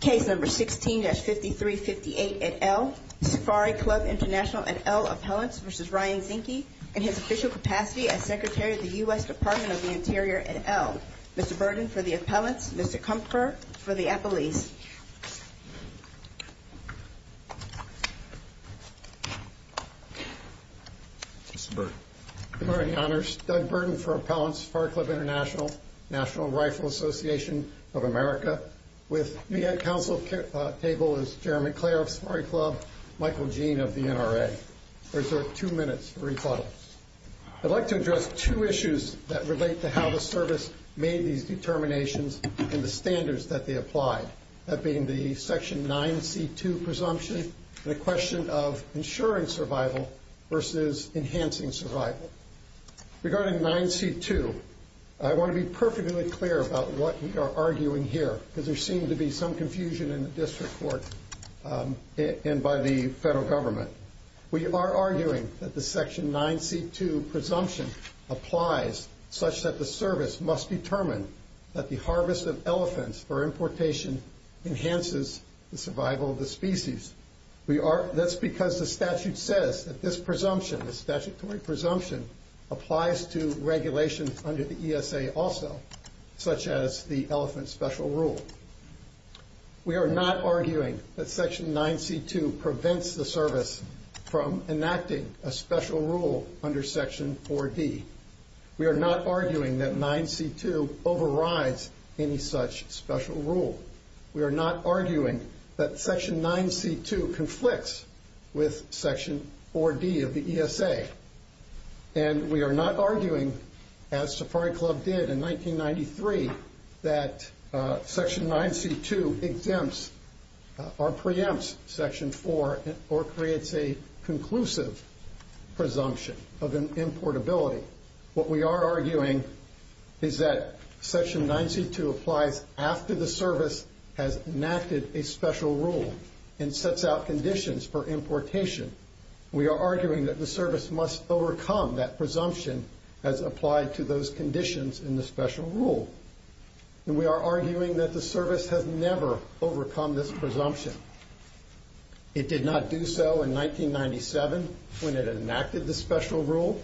Case No. 16-5358 et al., Safari Club International et al. Appellants v. Ryan Zinke in his official capacity as Secretary of the U.S. Department of the Interior et al. Mr. Burden for the Appellants, Mr. Kumpfer for the Appellees. Mr. Burden. Good morning, Your Honors. Doug Burden for Appellants, Safari Club International, National Rifle Association of America. With me at council table is Chairman Clare of Safari Club, Michael Jean of the NRA. Reserve two minutes for rebuttal. I'd like to address two issues that relate to how the service made these determinations and the standards that they applied. That being the Section 9C2 presumption and the question of ensuring survival versus enhancing survival. Regarding 9C2, I want to be perfectly clear about what we are arguing here because there seems to be some confusion in the district court and by the federal government. We are arguing that the Section 9C2 presumption applies such that the service must determine that the harvest of elephants for importation enhances the survival of the species. That's because the statute says that this presumption, the statutory presumption, applies to regulation under the ESA also, such as the elephant special rule. We are not arguing that Section 9C2 prevents the service from enacting a special rule under Section 4D. We are not arguing that 9C2 overrides any such special rule. We are not arguing that Section 9C2 conflicts with Section 4D of the ESA. And we are not arguing, as Safari Club did in 1993, that Section 9C2 exempts or preempts Section 4 or creates a conclusive presumption of importability. What we are arguing is that Section 9C2 applies after the service has enacted a special rule and sets out conditions for importation. We are arguing that the service must overcome that presumption as applied to those conditions in the special rule. And we are arguing that the service has never overcome this presumption. It did not do so in 1997 when it enacted the special rule.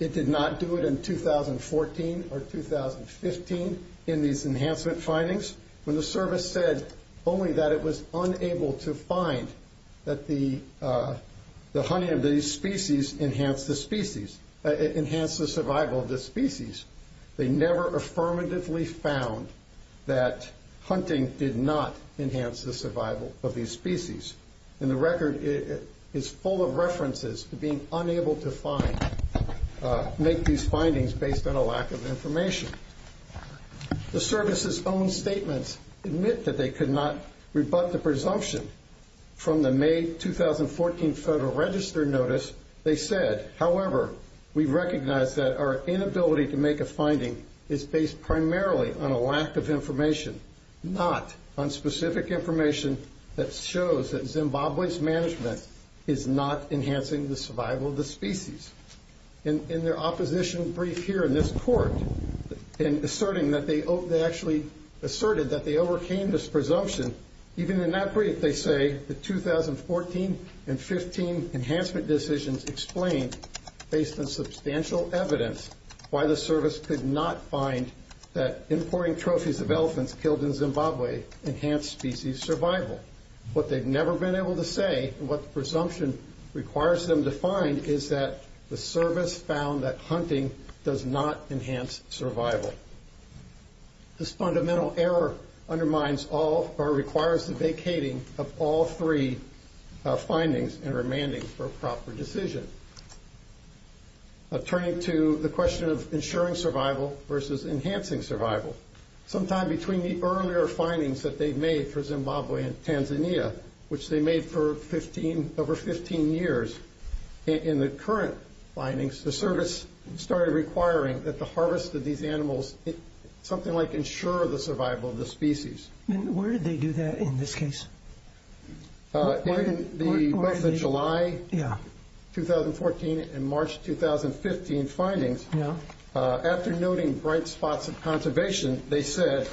It did not do it in 2014 or 2015 in these enhancement findings when the service said only that it was unable to find that the hunting of these species enhanced the species, enhanced the survival of the species. They never affirmatively found that hunting did not enhance the survival of these species. And the record is full of references to being unable to make these findings based on a lack of information. The service's own statements admit that they could not rebut the presumption from the May 2014 Federal Register notice. They said, however, we recognize that our inability to make a finding is based primarily on a lack of information, not on specific information that shows that Zimbabwe's management is not enhancing the survival of the species. In their opposition brief here in this court, in asserting that they actually asserted that they overcame this presumption, even in that brief they say the 2014 and 2015 enhancement decisions explained, based on substantial evidence, why the service could not find that importing trophies of elephants killed in Zimbabwe enhanced species survival. What they've never been able to say and what the presumption requires them to find is that the service found that hunting does not enhance survival. This fundamental error undermines all or requires the vacating of all three findings and remanding for a proper decision. Turning to the question of ensuring survival versus enhancing survival, sometime between the earlier findings that they made for Zimbabwe and Tanzania, which they made for 15, over 15 years, in the current findings, the service started requiring that the harvest of these animals, something like ensure the survival of the species. And where did they do that in this case? In the July 2014 and March 2015 findings, after noting bright spots of conservation, they said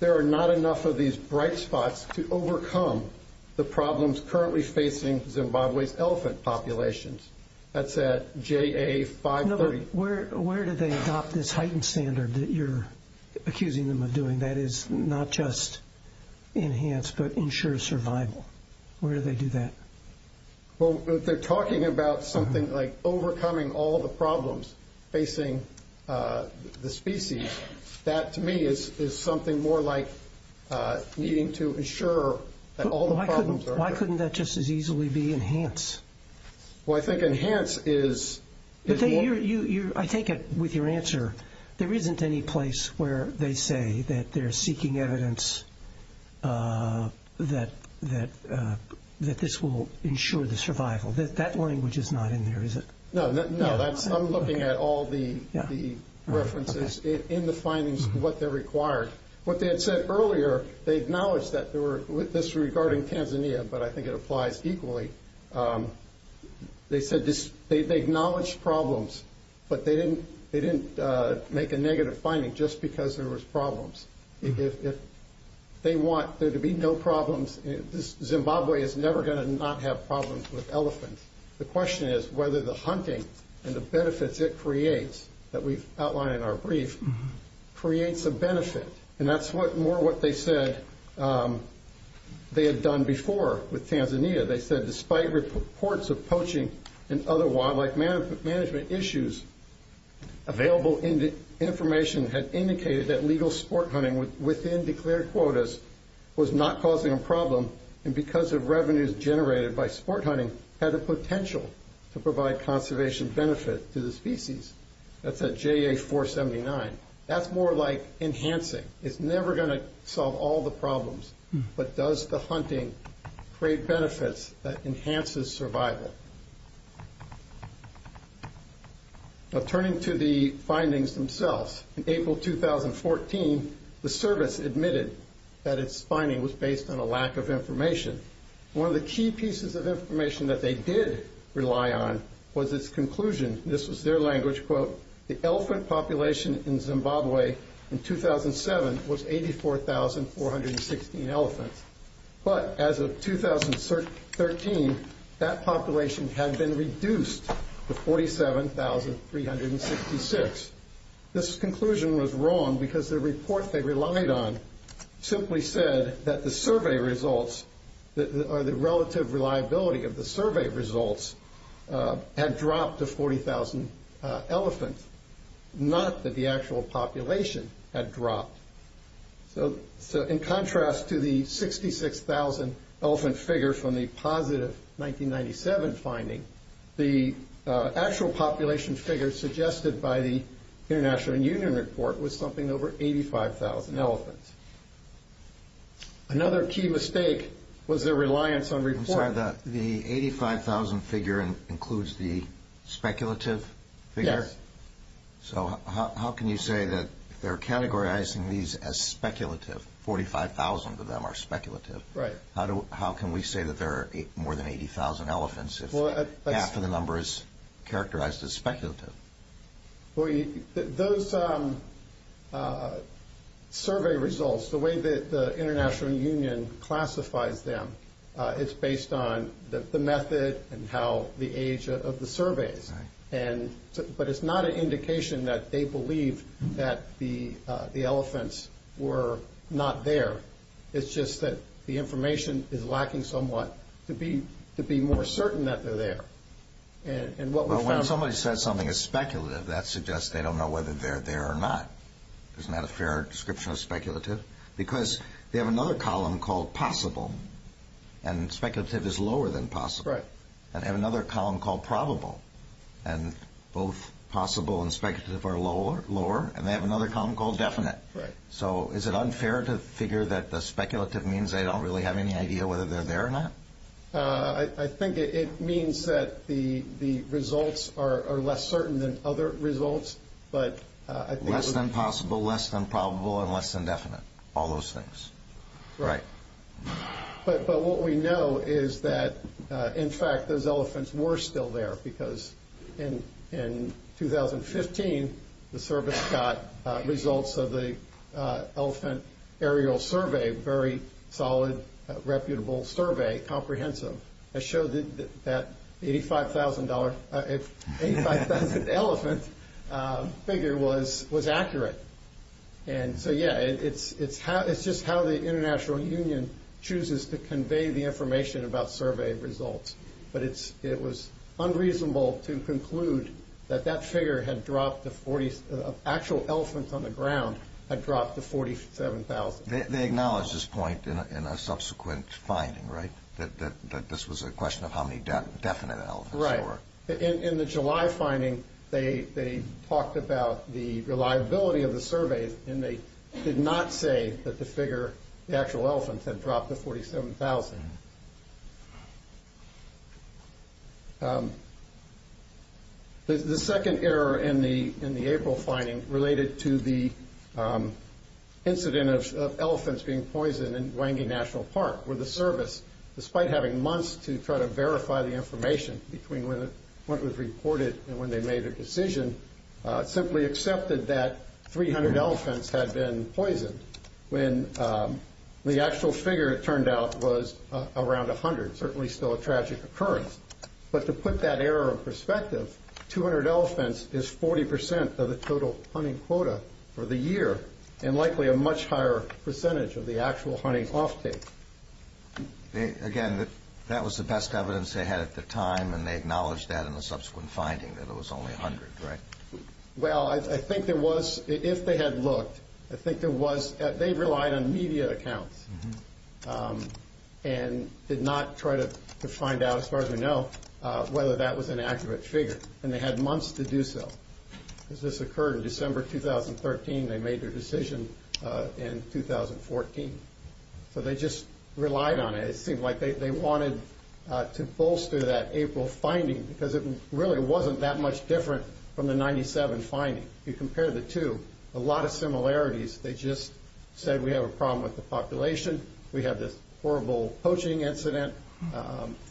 there are not enough of these bright spots to overcome the problems currently facing Zimbabwe's elephant populations. That's at JA530. Where did they adopt this heightened standard that you're accusing them of doing that is not just enhance but ensure survival? Where did they do that? Well, they're talking about something like overcoming all the problems facing the species. That to me is something more like needing to ensure that all the problems are there. Why couldn't that just as easily be enhance? Well, I think enhance is... I take it with your answer, there isn't any place where they say that they're seeking evidence that this will ensure the survival. That language is not in there, is it? No, I'm looking at all the references in the findings of what they required. What they had said earlier, they acknowledged this regarding Tanzania, but I think it applies equally. They acknowledged problems, but they didn't make a negative finding just because there was problems. If they want there to be no problems, Zimbabwe is never going to not have problems with elephants. The question is whether the hunting and the benefits it creates, that we've outlined in our brief, creates a benefit. That's more what they said they had done before with Tanzania. They said despite reports of poaching and other wildlife management issues, available information had indicated that legal sport hunting within declared quotas was not causing a problem, and because of revenues generated by sport hunting, had the potential to provide conservation benefit to the species. That's at JA 479. That's more like enhancing. It's never going to solve all the problems, but does the hunting create benefits that enhances survival? Turning to the findings themselves, in April 2014, the service admitted that its finding was based on a lack of information. One of the key pieces of information that they did rely on was its conclusion. This was their language, quote, the elephant population in Zimbabwe in 2007 was 84,416 elephants, but as of 2013, that population had been reduced to 47,366. This conclusion was wrong because the report they relied on simply said that the survey results, or the relative reliability of the survey results, had dropped to 40,000 elephants, not that the actual population had dropped. In contrast to the 66,000 elephant figure from the positive 1997 finding, the actual population figure suggested by the International Union report was something over 85,000 elephants. Another key mistake was their reliance on reports. I'm sorry, the 85,000 figure includes the speculative figure? Yes. So how can you say that they're categorizing these as speculative, 45,000 of them are speculative? Right. How can we say that there are more than 80,000 elephants if half of the number is characterized as speculative? Those survey results, the way that the International Union classifies them, it's based on the method and how the age of the surveys, but it's not an indication that they believe that the elephants were not there. It's just that the information is lacking somewhat to be more certain that they're there. Well, when somebody says something is speculative, that suggests they don't know whether they're there or not. Isn't that a fair description of speculative? Because they have another column called possible, and speculative is lower than possible. Right. And they have another column called probable, and both possible and speculative are lower, and they have another column called definite. Right. So is it unfair to figure that the speculative means they don't really have any idea whether they're there or not? I think it means that the results are less certain than other results, but I think it's- All those things. Right. But what we know is that, in fact, those elephants were still there because in 2015, the service got results of the elephant aerial survey, very solid, reputable survey, comprehensive. It showed that $85,000 elephant figure was accurate. And so, yeah, it's just how the international union chooses to convey the information about survey results. But it was unreasonable to conclude that that figure had dropped to 40- actual elephants on the ground had dropped to 47,000. They acknowledged this point in a subsequent finding, right, that this was a question of how many definite elephants there were? Right. In the July finding, they talked about the reliability of the survey, and they did not say that the figure, the actual elephants, had dropped to 47,000. The second error in the April finding related to the incident of elephants being poisoned in Wangi National Park, where the service, despite having months to try to verify the information between when it was reported and when they made a decision, simply accepted that 300 elephants had been poisoned when the actual figure, it turned out, was around 100, certainly still a tragic occurrence. But to put that error in perspective, 200 elephants is 40% of the total hunting quota for the year and likely a much higher percentage of the actual hunting offtake. Again, that was the best evidence they had at the time, and they acknowledged that in the subsequent finding, that it was only 100, right? Well, I think there was, if they had looked, I think there was, they relied on media accounts and did not try to find out, as far as we know, whether that was an accurate figure, and they had months to do so. As this occurred in December 2013, they made their decision in 2014. So they just relied on it. It seemed like they wanted to bolster that April finding because it really wasn't that much different from the 1997 finding. If you compare the two, a lot of similarities. They just said, we have a problem with the population, we have this horrible poaching incident,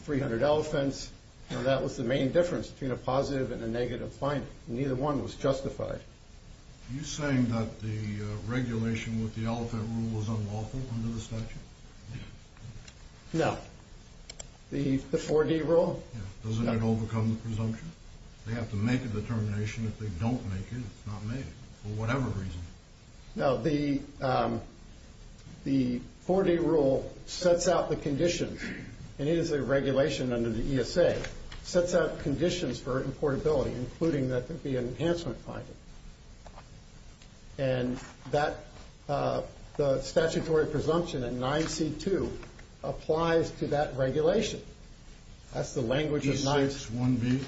300 elephants, and that was the main difference between a positive and a negative finding. Neither one was justified. Are you saying that the regulation with the elephant rule was unlawful under the statute? No. The 4D rule? Yeah. Doesn't it overcome the presumption? They have to make a determination. If they don't make it, it's not made, for whatever reason. No, the 4D rule sets out the condition, and it is a regulation under the ESA, sets out conditions for importability, including that there be an enhancement finding. And the statutory presumption in 9C2 applies to that regulation. That's the language of 9C2. E6-1B?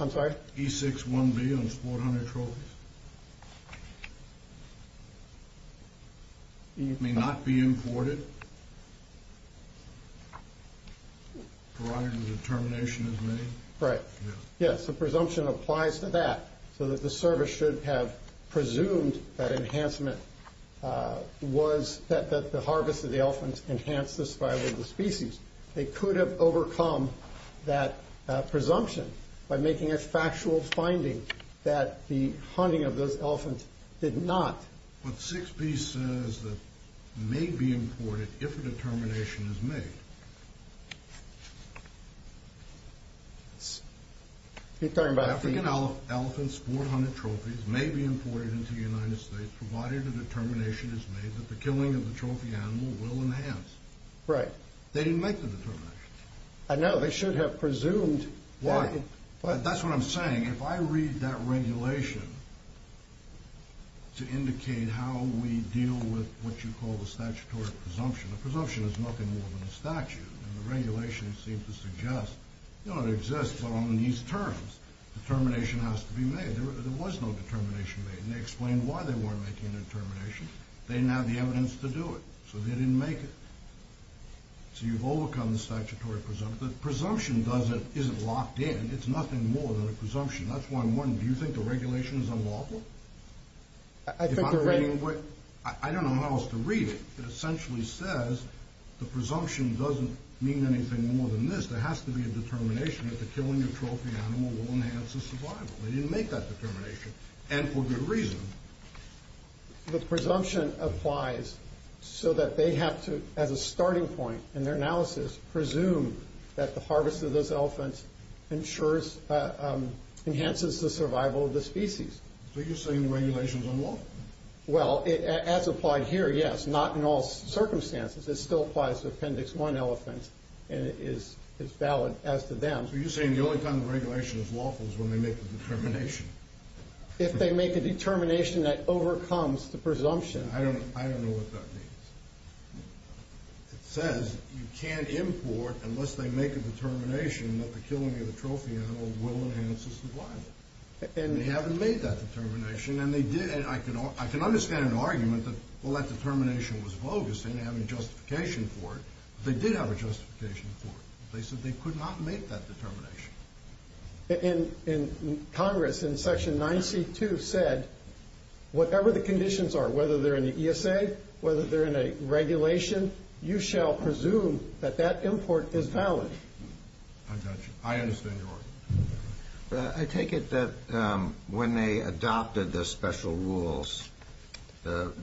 I'm sorry? E6-1B on sport hunter trophies? May not be imported? Provided the determination is made? Right. Yes, the presumption applies to that. So that the service should have presumed that enhancement was that the harvest of the elephants enhanced the survival of the species. They could have overcome that presumption by making a factual finding that the hunting of those elephants did not. But 6B says that may be imported if a determination is made. You're talking about the... African elephant sport hunter trophies may be imported into the United States provided the determination is made that the killing of the trophy animal will enhance. Right. They didn't make the determination. I know. They should have presumed... That's what I'm saying. If I read that regulation to indicate how we deal with what you call the statutory presumption. The presumption is nothing more than a statute. And the regulation seems to suggest, you know, it exists but on these terms. Determination has to be made. There was no determination made. And they explained why they weren't making a determination. They didn't have the evidence to do it. So they didn't make it. So you've overcome the statutory presumption. The presumption isn't locked in. It's nothing more than a presumption. That's why I'm wondering, do you think the regulation is unlawful? I think the regulation... I don't know how else to read it. It essentially says the presumption doesn't mean anything more than this. There has to be a determination that the killing of trophy animal will enhance the survival. They didn't make that determination. And for good reason. The presumption applies so that they have to, as a starting point in their analysis, presume that the harvest of those elephants ensures...enhances the survival of the species. So you're saying the regulation is unlawful? Well, as applied here, yes. Not in all circumstances. It still applies to Appendix 1 elephants, and it's valid as to them. So you're saying the only time the regulation is lawful is when they make the determination? If they make a determination that overcomes the presumption. I don't know what that means. It says you can't import unless they make a determination that the killing of the trophy animal will enhance the survival. And they haven't made that determination, and they did. And I can understand an argument that, well, that determination was bogus, and they didn't have any justification for it. But they did have a justification for it. They said they could not make that determination. Congress, in Section 9C2, said whatever the conditions are, whether they're in the ESA, whether they're in a regulation, you shall presume that that import is valid. I understand your argument. I take it that when they adopted the special rules, and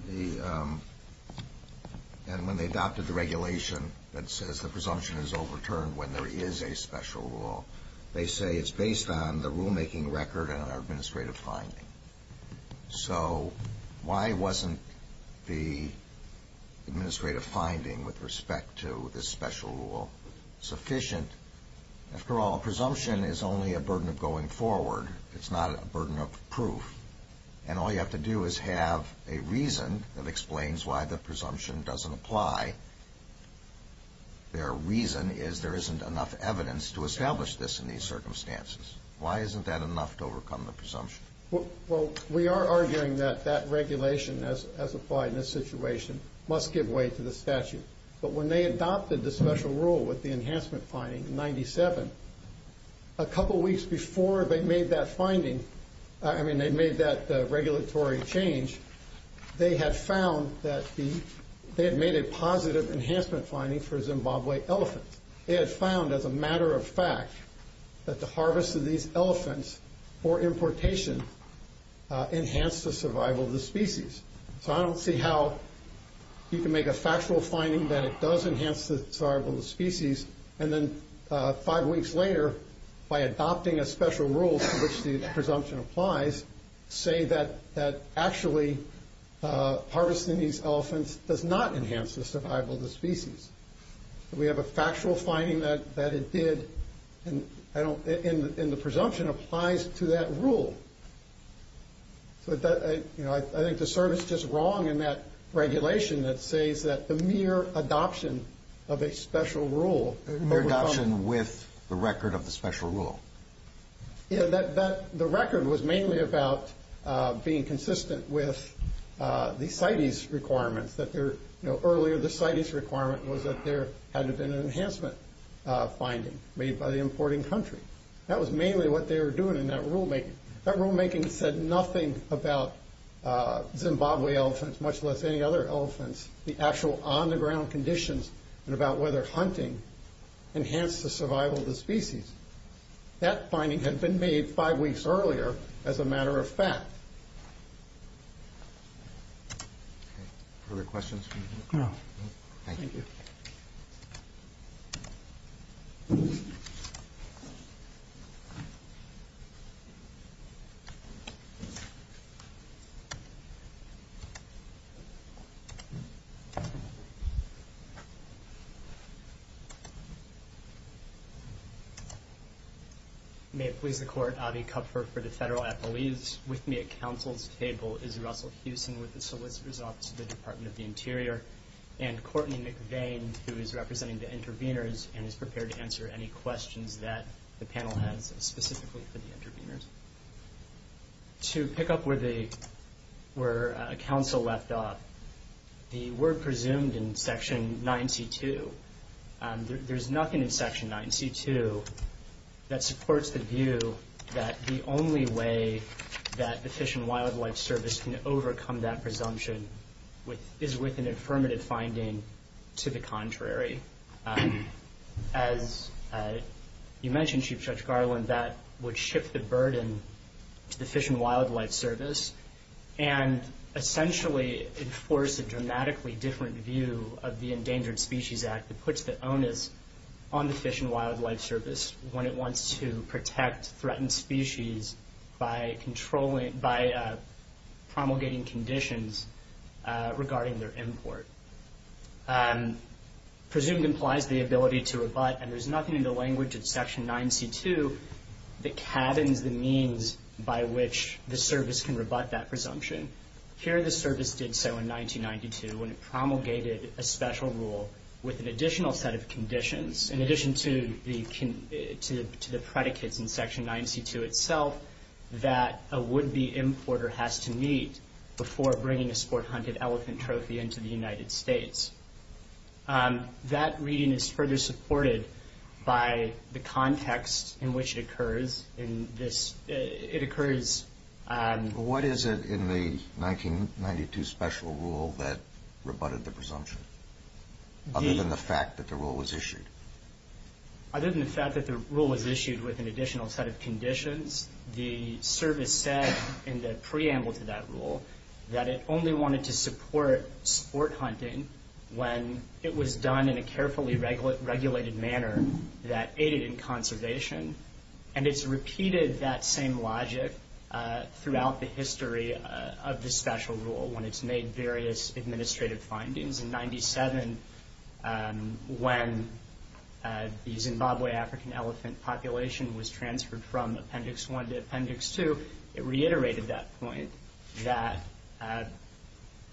when they adopted the regulation that says the presumption is overturned when there is a special rule, they say it's based on the rulemaking record and our administrative finding. So why wasn't the administrative finding with respect to this special rule sufficient? After all, a presumption is only a burden of going forward. It's not a burden of proof. And all you have to do is have a reason that explains why the presumption doesn't apply. Their reason is there isn't enough evidence to establish this in these circumstances. Why isn't that enough to overcome the presumption? Well, we are arguing that that regulation, as applied in this situation, must give way to the statute. But when they adopted the special rule with the enhancement finding in 97, a couple weeks before they made that finding, I mean, they made that regulatory change, they had made a positive enhancement finding for Zimbabwe elephants. They had found, as a matter of fact, that the harvest of these elephants, or importation, enhanced the survival of the species. So I don't see how you can make a factual finding that it does enhance the survival of the species, and then five weeks later, by adopting a special rule to which the presumption applies, say that actually harvesting these elephants does not enhance the survival of the species. We have a factual finding that it did, and the presumption applies to that rule. So I think the CERN is just wrong in that regulation that says that the mere adoption of a special rule. Mere adoption with the record of the special rule. The record was mainly about being consistent with the CITES requirements, that earlier the CITES requirement was that there had to have been an enhancement finding made by the importing country. That was mainly what they were doing in that rulemaking. That rulemaking said nothing about Zimbabwe elephants, much less any other elephants, the actual on-the-ground conditions, and about whether hunting enhanced the survival of the species. That finding had been made five weeks earlier as a matter of fact. Other questions? No. Thank you. Thank you. May it please the Court. Avi Kupfer for the Federal Appellees. With me at Council's table is Russell Hewson with the Solicitor's Office of the Department of the Interior, and Courtney McVane, who is representing the intervenors, and is prepared to answer any questions that the panel has specifically for the intervenors. To pick up where Council left off, the word presumed in Section 9C2, there's nothing in Section 9C2 that supports the view that the only way that the Fish and Wildlife Service can overcome that presumption is with an affirmative finding to the contrary. As you mentioned, Chief Judge Garland, that would shift the burden to the Fish and Wildlife Service and essentially enforce a dramatically different view of the Endangered Species Act that puts the onus on the Fish and Wildlife Service when it wants to protect threatened species by promulgating conditions regarding their import. Presumed implies the ability to rebut, and there's nothing in the language of Section 9C2 that cabins the means by which the Service can rebut that presumption. Here the Service did so in 1992 when it promulgated a special rule with an additional set of conditions. In addition to the predicates in Section 9C2 itself that a would-be importer has to meet before bringing a sport-hunted elephant trophy into the United States. That reading is further supported by the context in which it occurs. What is it in the 1992 special rule that rebutted the presumption, other than the fact that the rule was issued? Other than the fact that the rule was issued with an additional set of conditions, the Service said in the preamble to that rule that it only wanted to support sport hunting when it was done in a carefully regulated manner that aided in conservation, and it's repeated that same logic throughout the history of the special rule when it's made various administrative findings. In 1997, when the Zimbabwe African elephant population was transferred from Appendix 1 to Appendix 2, it reiterated that point, that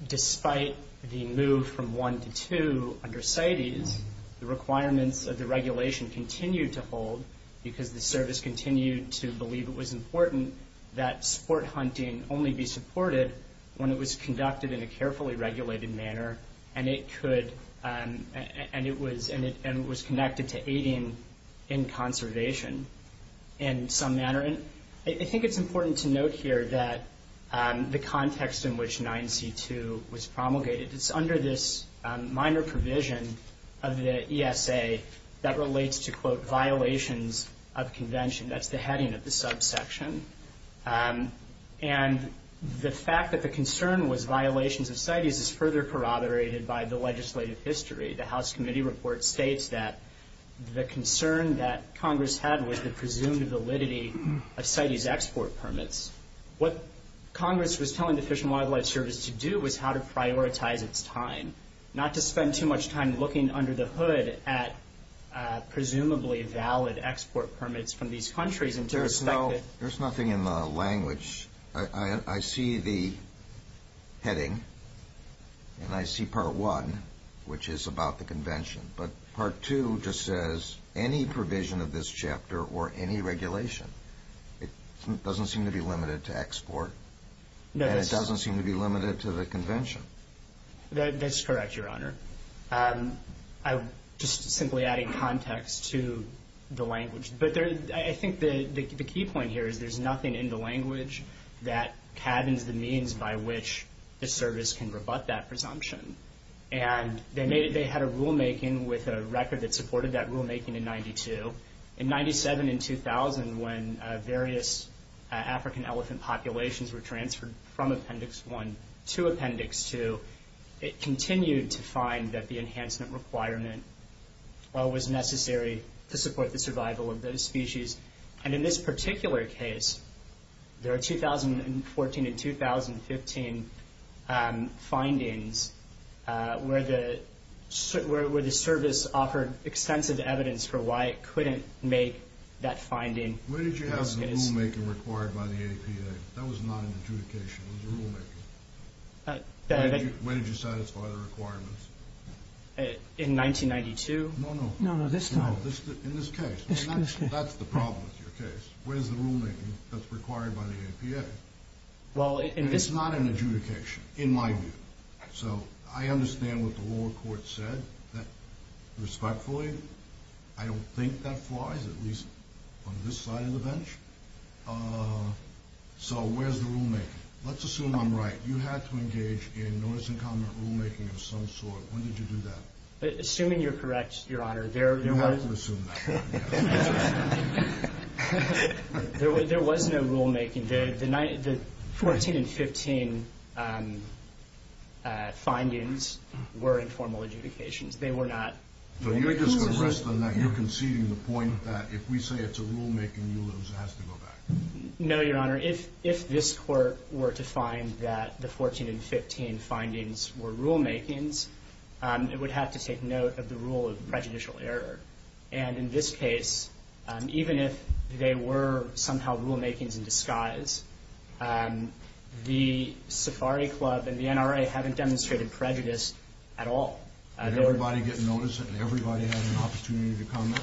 despite the move from 1 to 2 under CITES, the requirements of the regulation continued to hold because the Service continued to believe it was important that sport hunting only be supported when it was conducted in a carefully regulated manner and it was connected to aiding in conservation in some manner. I think it's important to note here that the context in which 9C2 was promulgated, it's under this minor provision of the ESA that relates to, quote, violations of convention. That's the heading of the subsection. And the fact that the concern was violations of CITES is further corroborated by the legislative history. The House Committee Report states that the concern that Congress had was the presumed validity of CITES export permits. What Congress was telling the Fish and Wildlife Service to do was how to prioritize its time, not to spend too much time looking under the hood at presumably valid export permits from these countries. There's nothing in the language. I see the heading and I see Part 1, which is about the convention, but Part 2 just says any provision of this chapter or any regulation. It doesn't seem to be limited to export. And it doesn't seem to be limited to the convention. That's correct, Your Honor. I'm just simply adding context to the language. But I think the key point here is there's nothing in the language that cabins the means by which the service can rebut that presumption. And they had a rulemaking with a record that supported that rulemaking in 92. In 97 and 2000, when various African elephant populations were transferred from Appendix 1 to Appendix 2, it continued to find that the enhancement requirement was necessary to support the survival of those species. And in this particular case, there are 2014 and 2015 findings where the service offered extensive evidence for why it couldn't make that finding. When did you have the rulemaking required by the APA? That was not an adjudication. It was a rulemaking. When did you satisfy the requirements? In 1992. No, no. In this case. That's the problem with your case. Where's the rulemaking that's required by the APA? It's not an adjudication, in my view. So I understand what the lower court said. Respectfully, I don't think that flies, at least on this side of the bench. So where's the rulemaking? Let's assume I'm right. You had to engage in notice-and-comment rulemaking of some sort. When did you do that? Assuming you're correct, Your Honor. You have to assume that. There was no rulemaking. The 14 and 15 findings were informal adjudications. They were not... So you're just going to rest on that. You're conceding the point that if we say it's a rulemaking, you lose. It has to go back. No, Your Honor. If this Court were to find that the 14 and 15 findings were rulemakings, it would have to take note of the rule of prejudicial error. And in this case, even if they were somehow rulemakings in disguise, the Safari Club and the NRA haven't demonstrated prejudice at all. Did everybody get notice? Did everybody have an opportunity to comment?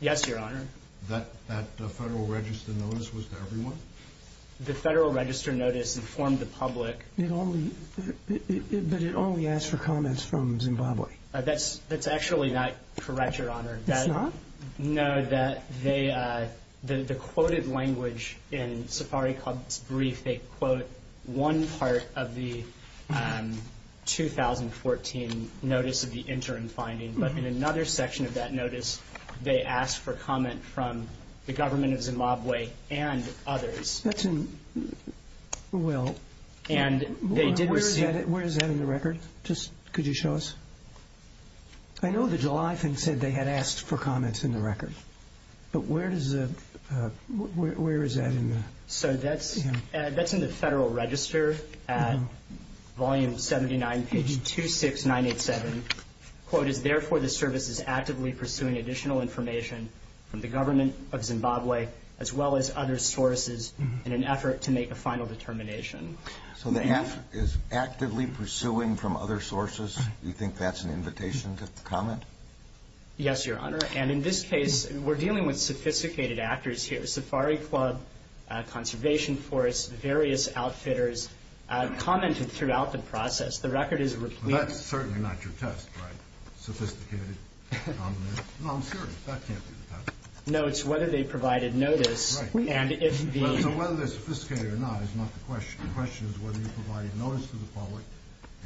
Yes, Your Honor. That Federal Register notice was to everyone? The Federal Register notice informed the public. But it only asked for comments from Zimbabwe. That's actually not correct, Your Honor. It's not? No. The quoted language in Safari Club's brief, they quote one part of the 2014 notice of the interim finding. But in another section of that notice, they asked for comment from the government of Zimbabwe and others. That's in... Well... Where is that in the record? Just could you show us? I know the July thing said they had asked for comments in the record. But where does the... Where is that in the... So that's in the Federal Register at volume 79, page 26987. The quote is, therefore the service is actively pursuing additional information from the government of Zimbabwe as well as other sources in an effort to make a final determination. So the act is actively pursuing from other sources? You think that's an invitation to comment? Yes, Your Honor. And in this case, we're dealing with sophisticated actors here. Safari Club, Conservation Force, various outfitters commented throughout the process. The record is... Well, that's certainly not your test, right? Sophisticated? No, I'm serious. That can't be the test. No, it's whether they provided notice. Right. My question is whether you provided notice to the public,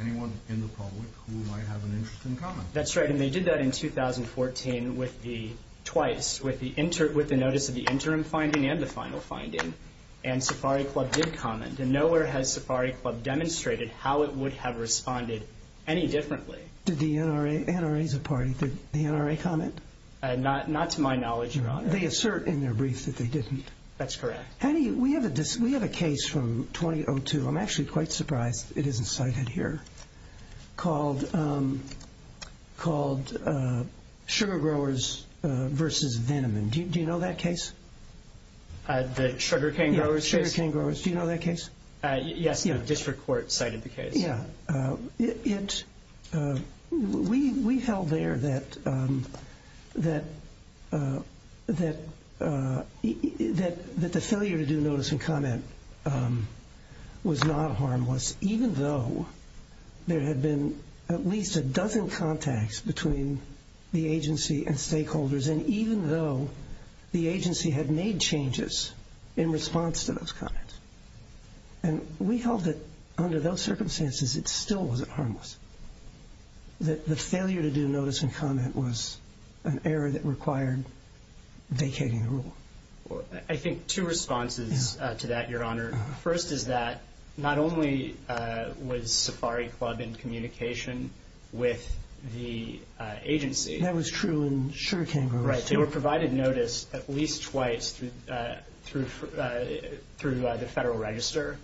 anyone in the public who might have an interest in comment. That's right, and they did that in 2014 with the... twice, with the notice of the interim finding and the final finding. And Safari Club did comment. And nowhere has Safari Club demonstrated how it would have responded any differently. Did the NRA... NRA's a party. Did the NRA comment? Not to my knowledge, Your Honor. They assert in their brief that they didn't. That's correct. How do you... We have a case from 2002, I'm actually quite surprised it isn't cited here, called Sugar Growers v. Venom. Do you know that case? The Sugar Cane Growers case? Yeah, Sugar Cane Growers. Do you know that case? Yes, the district court cited the case. Yeah. We held there that the failure to do notice and comment was not harmless, even though there had been at least a dozen contacts between the agency and stakeholders, and even though the agency had made changes in response to those comments. And we held that under those circumstances it still wasn't harmless, that the failure to do notice and comment was an error that required vacating the rule. I think two responses to that, Your Honor. First is that not only was Safari Club in communication with the agency... Right, they were provided notice at least twice through the Federal Register.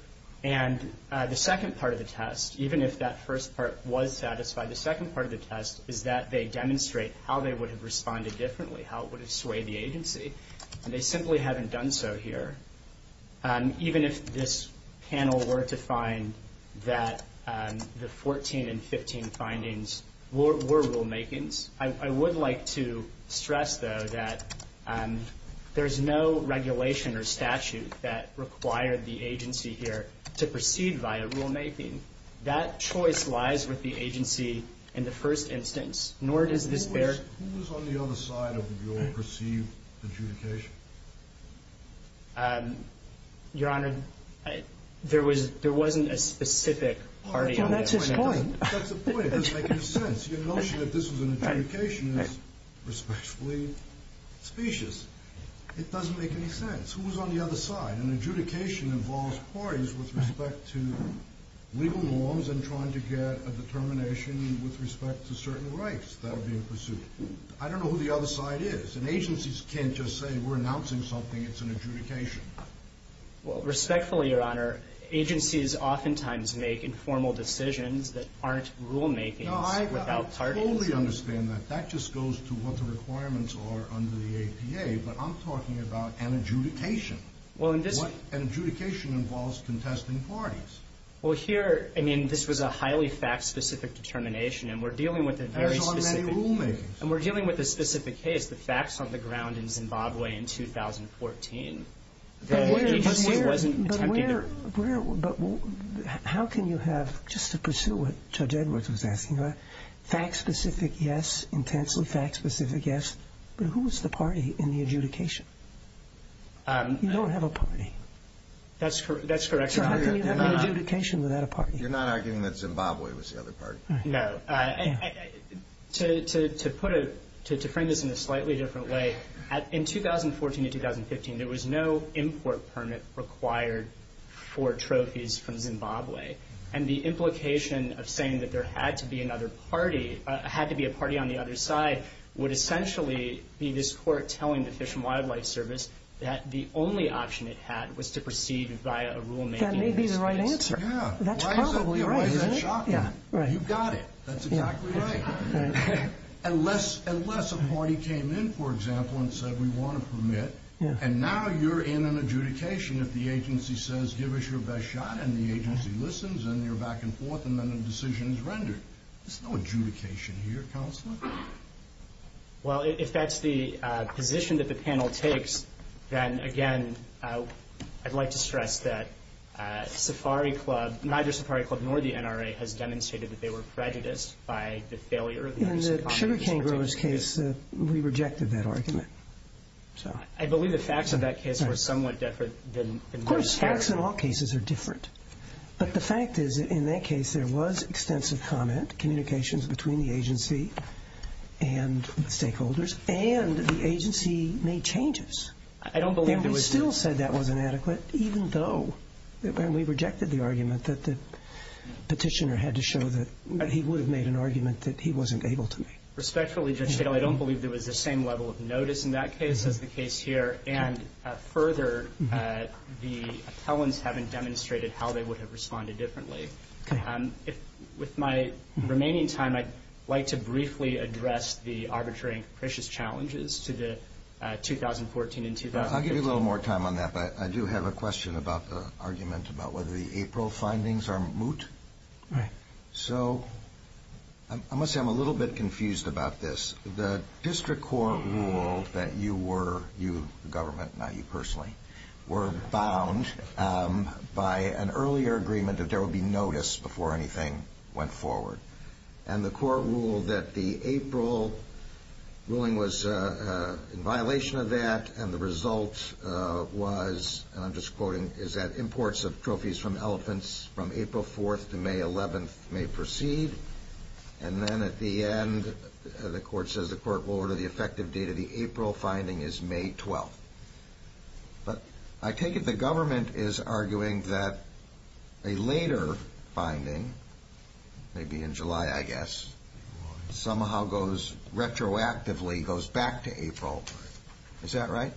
And the second part of the test, even if that first part was satisfied, the second part of the test is that they demonstrate how they would have responded differently, how it would have swayed the agency. And they simply haven't done so here. Even if this panel were to find that the 14 and 15 findings were rulemakings, I would like to stress, though, that there's no regulation or statute that required the agency here to proceed via rulemaking. That choice lies with the agency in the first instance, nor does this bear... Who was on the other side of your perceived adjudication? Your Honor, there wasn't a specific party on that point. Well, that's his point. That's the point. It doesn't make any sense. Your notion that this was an adjudication is respectfully specious. It doesn't make any sense. Who was on the other side? An adjudication involves parties with respect to legal norms and trying to get a determination with respect to certain rights that are being pursued. I don't know who the other side is, and agencies can't just say we're announcing something, it's an adjudication. Well, respectfully, Your Honor, agencies oftentimes make informal decisions that aren't rulemakings without parties. No, I fully understand that. That just goes to what the requirements are under the APA, but I'm talking about an adjudication. Well, in this... An adjudication involves contesting parties. Well, here, I mean, this was a highly fact-specific determination, and we're dealing with a very specific... There's already rulemakings. And we're dealing with a specific case, the facts on the ground in Zimbabwe in 2014. The agency wasn't attempting to... But how can you have, just to pursue what Judge Edwards was asking about, fact-specific yes, intensely fact-specific yes, but who was the party in the adjudication? You don't have a party. That's correct, Your Honor. So how can you have an adjudication without a party? You're not arguing that Zimbabwe was the other party? No. To frame this in a slightly different way, in 2014 to 2015, there was no import permit required for trophies from Zimbabwe. And the implication of saying that there had to be another party, had to be a party on the other side, would essentially be this court telling the Fish and Wildlife Service that the only option it had was to proceed via a rulemaking. That may be the right answer. Yeah. That's probably right, isn't it? Why is that shocking? You got it. That's exactly right. Unless a party came in, for example, and said we want a permit, and now you're in an adjudication if the agency says give us your best shot, and the agency listens, and you're back and forth, and then a decision is rendered. There's no adjudication here, Counselor. Well, if that's the position that the panel takes, then, again, I'd like to stress that Safari Club, neither Safari Club nor the NRA, has demonstrated that they were prejudiced by the failure of the NRA. In the Sugarcane Growers case, we rejected that argument. I believe the facts of that case were somewhat different than most cases. Of course, facts in all cases are different. But the fact is, in that case, there was extensive comment, communications between the agency and stakeholders, and the agency made changes. I don't believe there was. And we still said that was inadequate, even though we rejected the argument that the petitioner had to show that he would have made an argument that he wasn't able to make. Respectfully, Judge Stigall, I don't believe there was the same level of notice in that case as the case here, and further, the appellants haven't demonstrated how they would have responded differently. Okay. With my remaining time, I'd like to briefly address the arbitrary and capricious challenges to the 2014 and 2015. I'll give you a little more time on that, but I do have a question about the argument about whether the April findings are moot. Right. So I must say I'm a little bit confused about this. The district court ruled that you were, you, the government, not you personally, were bound by an earlier agreement that there would be notice before anything went forward. And the court ruled that the April ruling was in violation of that, and the result was, and I'm just quoting, is that imports of trophies from elephants from April 4th to May 11th may proceed. And then at the end, the court says the court will order the effective date of the April finding is May 12th. But I take it the government is arguing that a later finding, maybe in July, I guess, somehow goes retroactively, goes back to April. Is that right?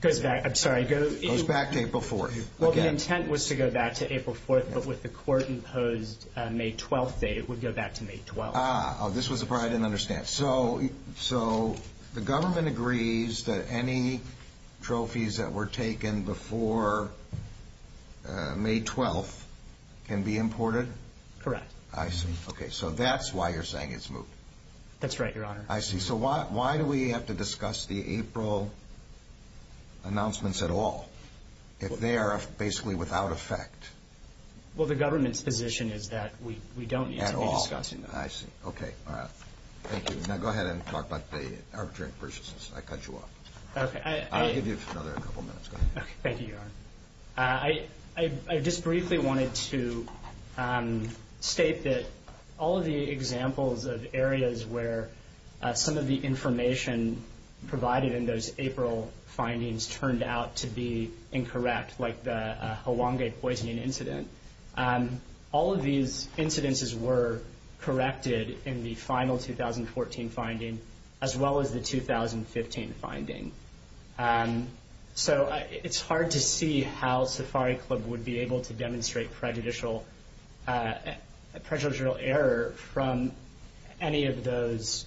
Goes back. I'm sorry. Goes back to April 4th. Well, the intent was to go back to April 4th, but with the court-imposed May 12th date, it would go back to May 12th. Oh, this was the part I didn't understand. So the government agrees that any trophies that were taken before May 12th can be imported? Correct. I see. Okay. So that's why you're saying it's moot. That's right, Your Honor. I see. So why do we have to discuss the April announcements at all if they are basically without effect? Well, the government's position is that we don't need to be discussing them. At all. I see. Okay. Thank you. Now go ahead and talk about the arbitrary purchases. I cut you off. Okay. I'll give you another couple minutes. Go ahead. Thank you, Your Honor. I just briefly wanted to state that all of the examples of areas where some of the information provided in those April findings turned out to be incorrect, like the Hawangue poisoning incident, all of these incidences were corrected in the final 2014 finding as well as the 2015 finding. So it's hard to see how Safari Club would be able to demonstrate prejudicial error from any of those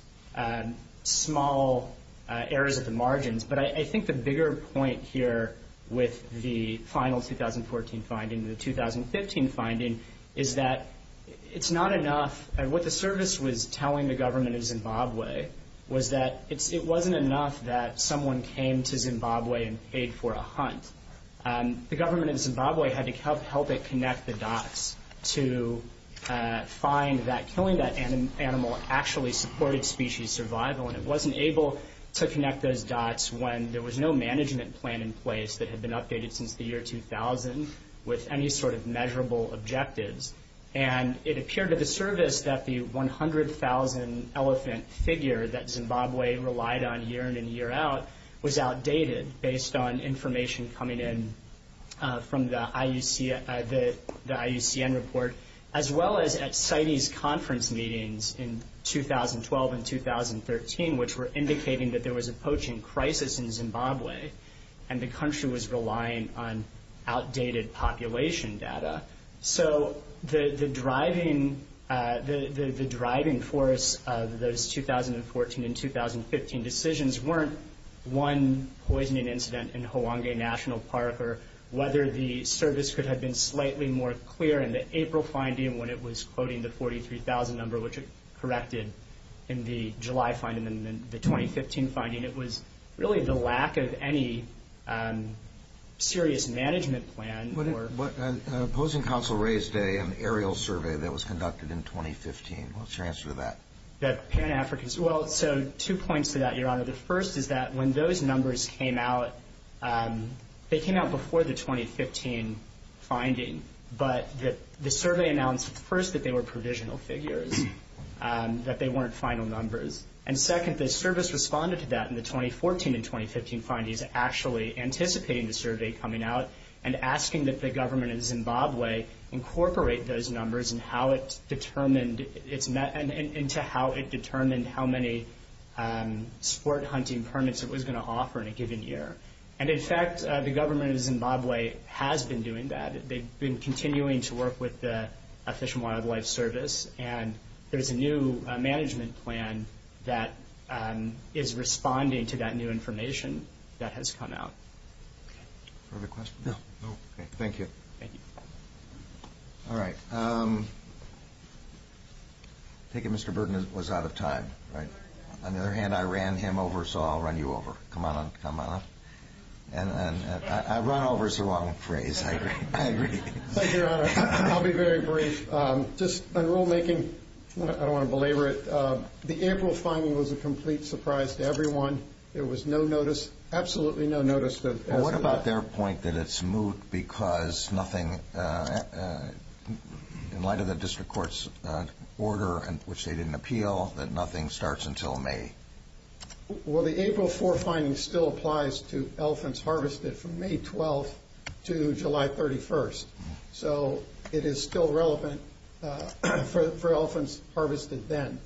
small errors at the margins. But I think the bigger point here with the final 2014 finding and the 2015 finding is that it's not enough. What the service was telling the government in Zimbabwe was that it wasn't enough that someone came to Zimbabwe and paid for a hunt. The government in Zimbabwe had to help it connect the dots to find that killing that animal actually supported species survival, and it wasn't able to connect those dots when there was no management plan in place that had been updated since the year 2000 with any sort of measurable objectives. And it appeared to the service that the 100,000 elephant figure that Zimbabwe relied on year in and year out was outdated based on information coming in from the IUCN report as well as at CITES conference meetings in 2012 and 2013, which were indicating that there was a poaching crisis in Zimbabwe and the country was relying on outdated population data. So the driving force of those 2014 and 2015 decisions weren't one poisoning incident in Hoange National Park or whether the service could have been slightly more clear in the April finding when it was quoting the 43,000 number, which it corrected in the July finding and then the 2015 finding. It was really the lack of any serious management plan. The opposing counsel raised an aerial survey that was conducted in 2015. What's your answer to that? The Pan-Africans. Well, so two points to that, Your Honor. The first is that when those numbers came out, they came out before the 2015 finding, but the survey announced first that they were provisional figures, that they weren't final numbers. And second, the service responded to that in the 2014 and 2015 findings, actually anticipating the survey coming out and asking that the government in Zimbabwe incorporate those numbers into how it determined how many sport hunting permits it was going to offer in a given year. And, in fact, the government in Zimbabwe has been doing that. They've been continuing to work with the Fish and Wildlife Service, and there's a new management plan that is responding to that new information that has come out. Further questions? No. Thank you. Thank you. All right. I think Mr. Burton was out of time, right? On the other hand, I ran him over, so I'll run you over. Come on up, come on up. Run over is a long phrase. I agree. Thank you, Your Honor. I'll be very brief. Just on rulemaking, I don't want to belabor it, the April finding was a complete surprise to everyone. There was no notice, absolutely no notice. What about their point that it's moot because nothing, in light of the district court's order, which they didn't appeal, that nothing starts until May? Well, the April 4 finding still applies to elephants harvested from May 12th to July 31st. So it is still relevant for elephants harvested then.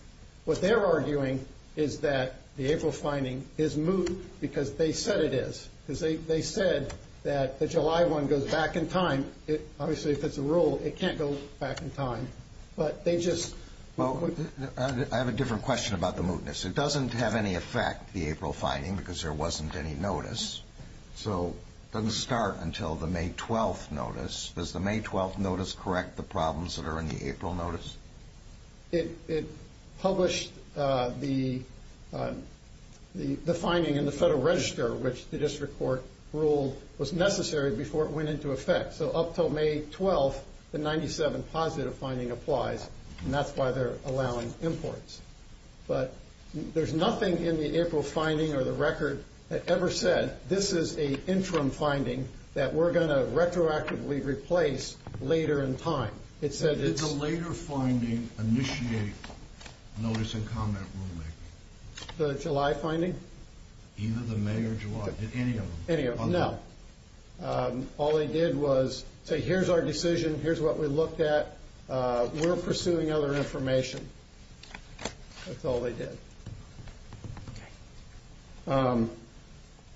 What they're arguing is that the April finding is moot because they said it is, because they said that the July one goes back in time. Obviously, if it's a rule, it can't go back in time. But they just – Well, I have a different question about the mootness. It doesn't have any effect, the April finding, because there wasn't any notice. So it doesn't start until the May 12th notice. Does the May 12th notice correct the problems that are in the April notice? It published the finding in the Federal Register, which the district court ruled was necessary before it went into effect. So up until May 12th, the 97 positive finding applies, and that's why they're allowing imports. But there's nothing in the April finding or the record that ever said, this is an interim finding that we're going to retroactively replace later in time. It said it's – Did the later finding initiate notice and comment rulemaking? The July finding? Either the May or July. Did any of them? Any of them, no. All they did was say, here's our decision, here's what we looked at, we're pursuing other information. That's all they did.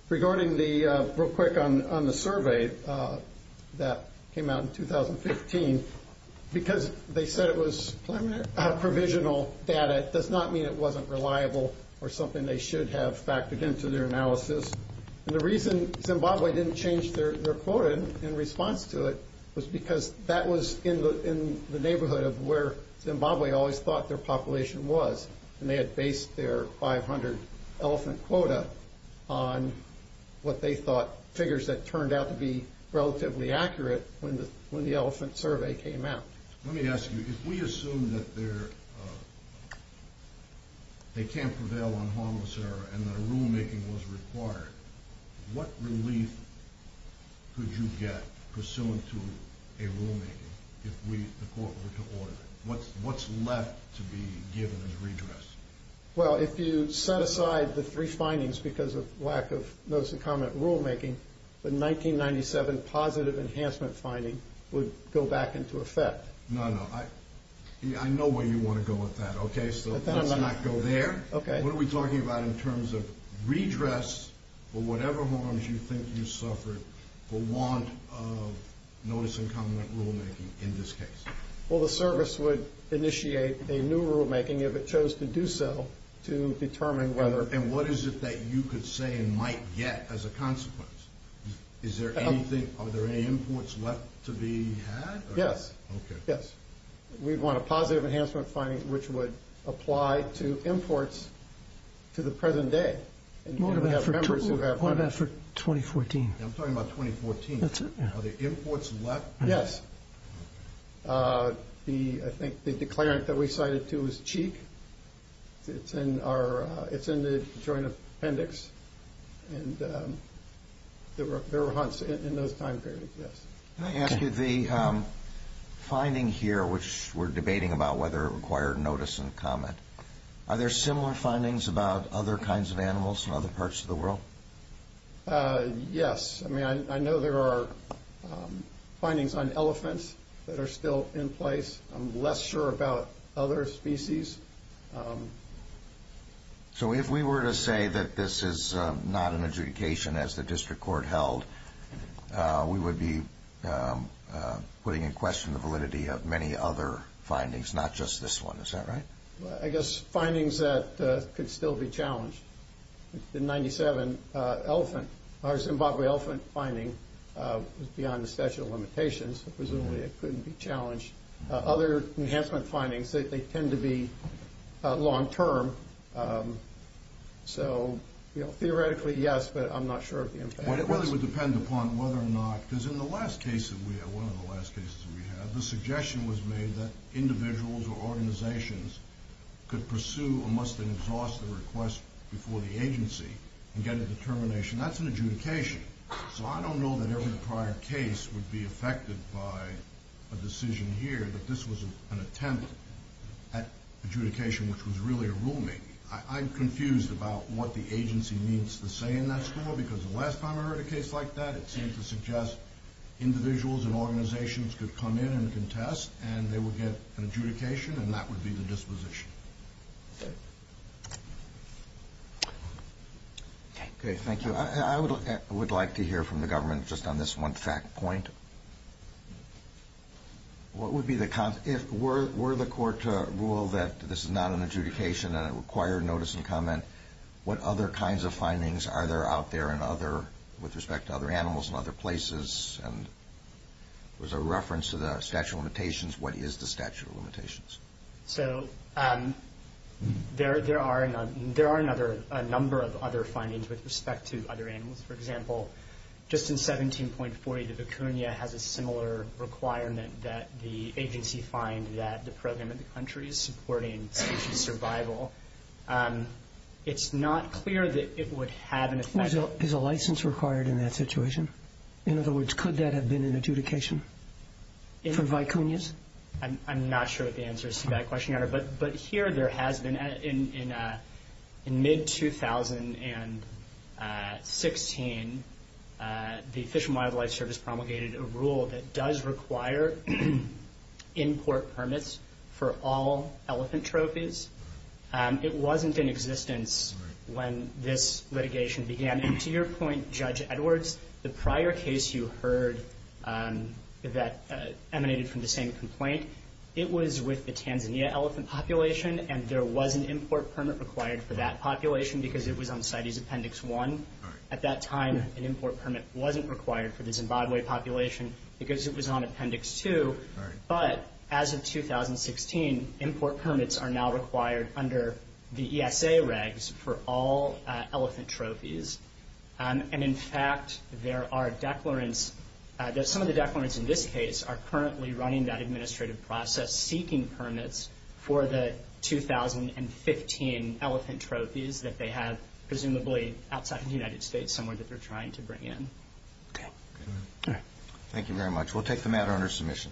Regarding the – real quick on the survey that came out in 2015, because they said it was provisional data, it does not mean it wasn't reliable or something they should have factored into their analysis. And the reason Zimbabwe didn't change their quota in response to it was because that was in the neighborhood of where Zimbabwe always thought their population was, and they had based their 500 elephant quota on what they thought, figures that turned out to be relatively accurate when the elephant survey came out. Let me ask you, if we assume that they can't prevail on harmless error and that a rulemaking was required, what relief could you get pursuant to a rulemaking if the court were to order it? What's left to be given as redress? Well, if you set aside the three findings because of lack of notice and comment rulemaking, the 1997 positive enhancement finding would go back into effect. No, no. I know where you want to go with that, okay? So let's not go there. What are we talking about in terms of redress for whatever harms you think you suffered for want of notice and comment rulemaking in this case? Well, the service would initiate a new rulemaking if it chose to do so to determine whether... And what is it that you could say and might get as a consequence? Are there any imports left to be had? Yes, yes. We'd want a positive enhancement finding which would apply to imports to the present day. What about for 2014? I'm talking about 2014. That's right. Are there imports left? Yes. I think the declarant that we cited too was Cheek. It's in the joint appendix. And there were hunts in those time periods, yes. Can I ask you the finding here, which we're debating about whether it required notice and comment, are there similar findings about other kinds of animals from other parts of the world? Yes. I mean, I know there are findings on elephants that are still in place. I'm less sure about other species. So if we were to say that this is not an adjudication as the district court held, we would be putting in question the validity of many other findings, not just this one. Is that right? I guess findings that could still be challenged. The 97 elephant, our Zimbabwe elephant finding was beyond the statute of limitations. Presumably it couldn't be challenged. Other enhancement findings, they tend to be long-term. So, you know, theoretically, yes, but I'm not sure of the impact. Well, it would depend upon whether or not, because in the last case that we had, one of the last cases that we had, the suggestion was made that individuals or organizations could pursue or must exhaust the request before the agency and get a determination. That's an adjudication. So I don't know that every prior case would be affected by a decision here, but this was an attempt at adjudication, which was really a rulemaking. I'm confused about what the agency needs to say in that score, because the last time I heard a case like that, it seemed to suggest individuals and organizations could come in and contest, and they would get an adjudication, and that would be the disposition. Okay, thank you. I would like to hear from the government just on this one fact point. What would be the con- If were the court to rule that this is not an adjudication and it required notice and comment, what other kinds of findings are there out there with respect to other animals and other places? And was there a reference to the statute of limitations? What is the statute of limitations? So there are a number of other findings with respect to other animals. For example, just in 17.40, the vicuña has a similar requirement that the agency find that the program in the country is supporting species survival. It's not clear that it would have an effect. Is a license required in that situation? In other words, could that have been an adjudication for vicuñas? I'm not sure what the answer is to that question, Your Honor. But here there has been, in mid-2016, the Fish and Wildlife Service promulgated a rule that does require import permits for all elephant trophies. It wasn't in existence when this litigation began. And to your point, Judge Edwards, the prior case you heard that emanated from the same complaint, it was with the Tanzania elephant population, and there was an import permit required for that population because it was on CITES Appendix 1. At that time, an import permit wasn't required for the Zimbabwe population because it was on Appendix 2. But as of 2016, import permits are now required under the ESA regs for all elephant trophies. And in fact, there are declarants. Some of the declarants in this case are currently running that administrative process, seeking permits for the 2015 elephant trophies that they have, presumably outside the United States somewhere that they're trying to bring in. Okay. Thank you very much. We'll take the matter under submission.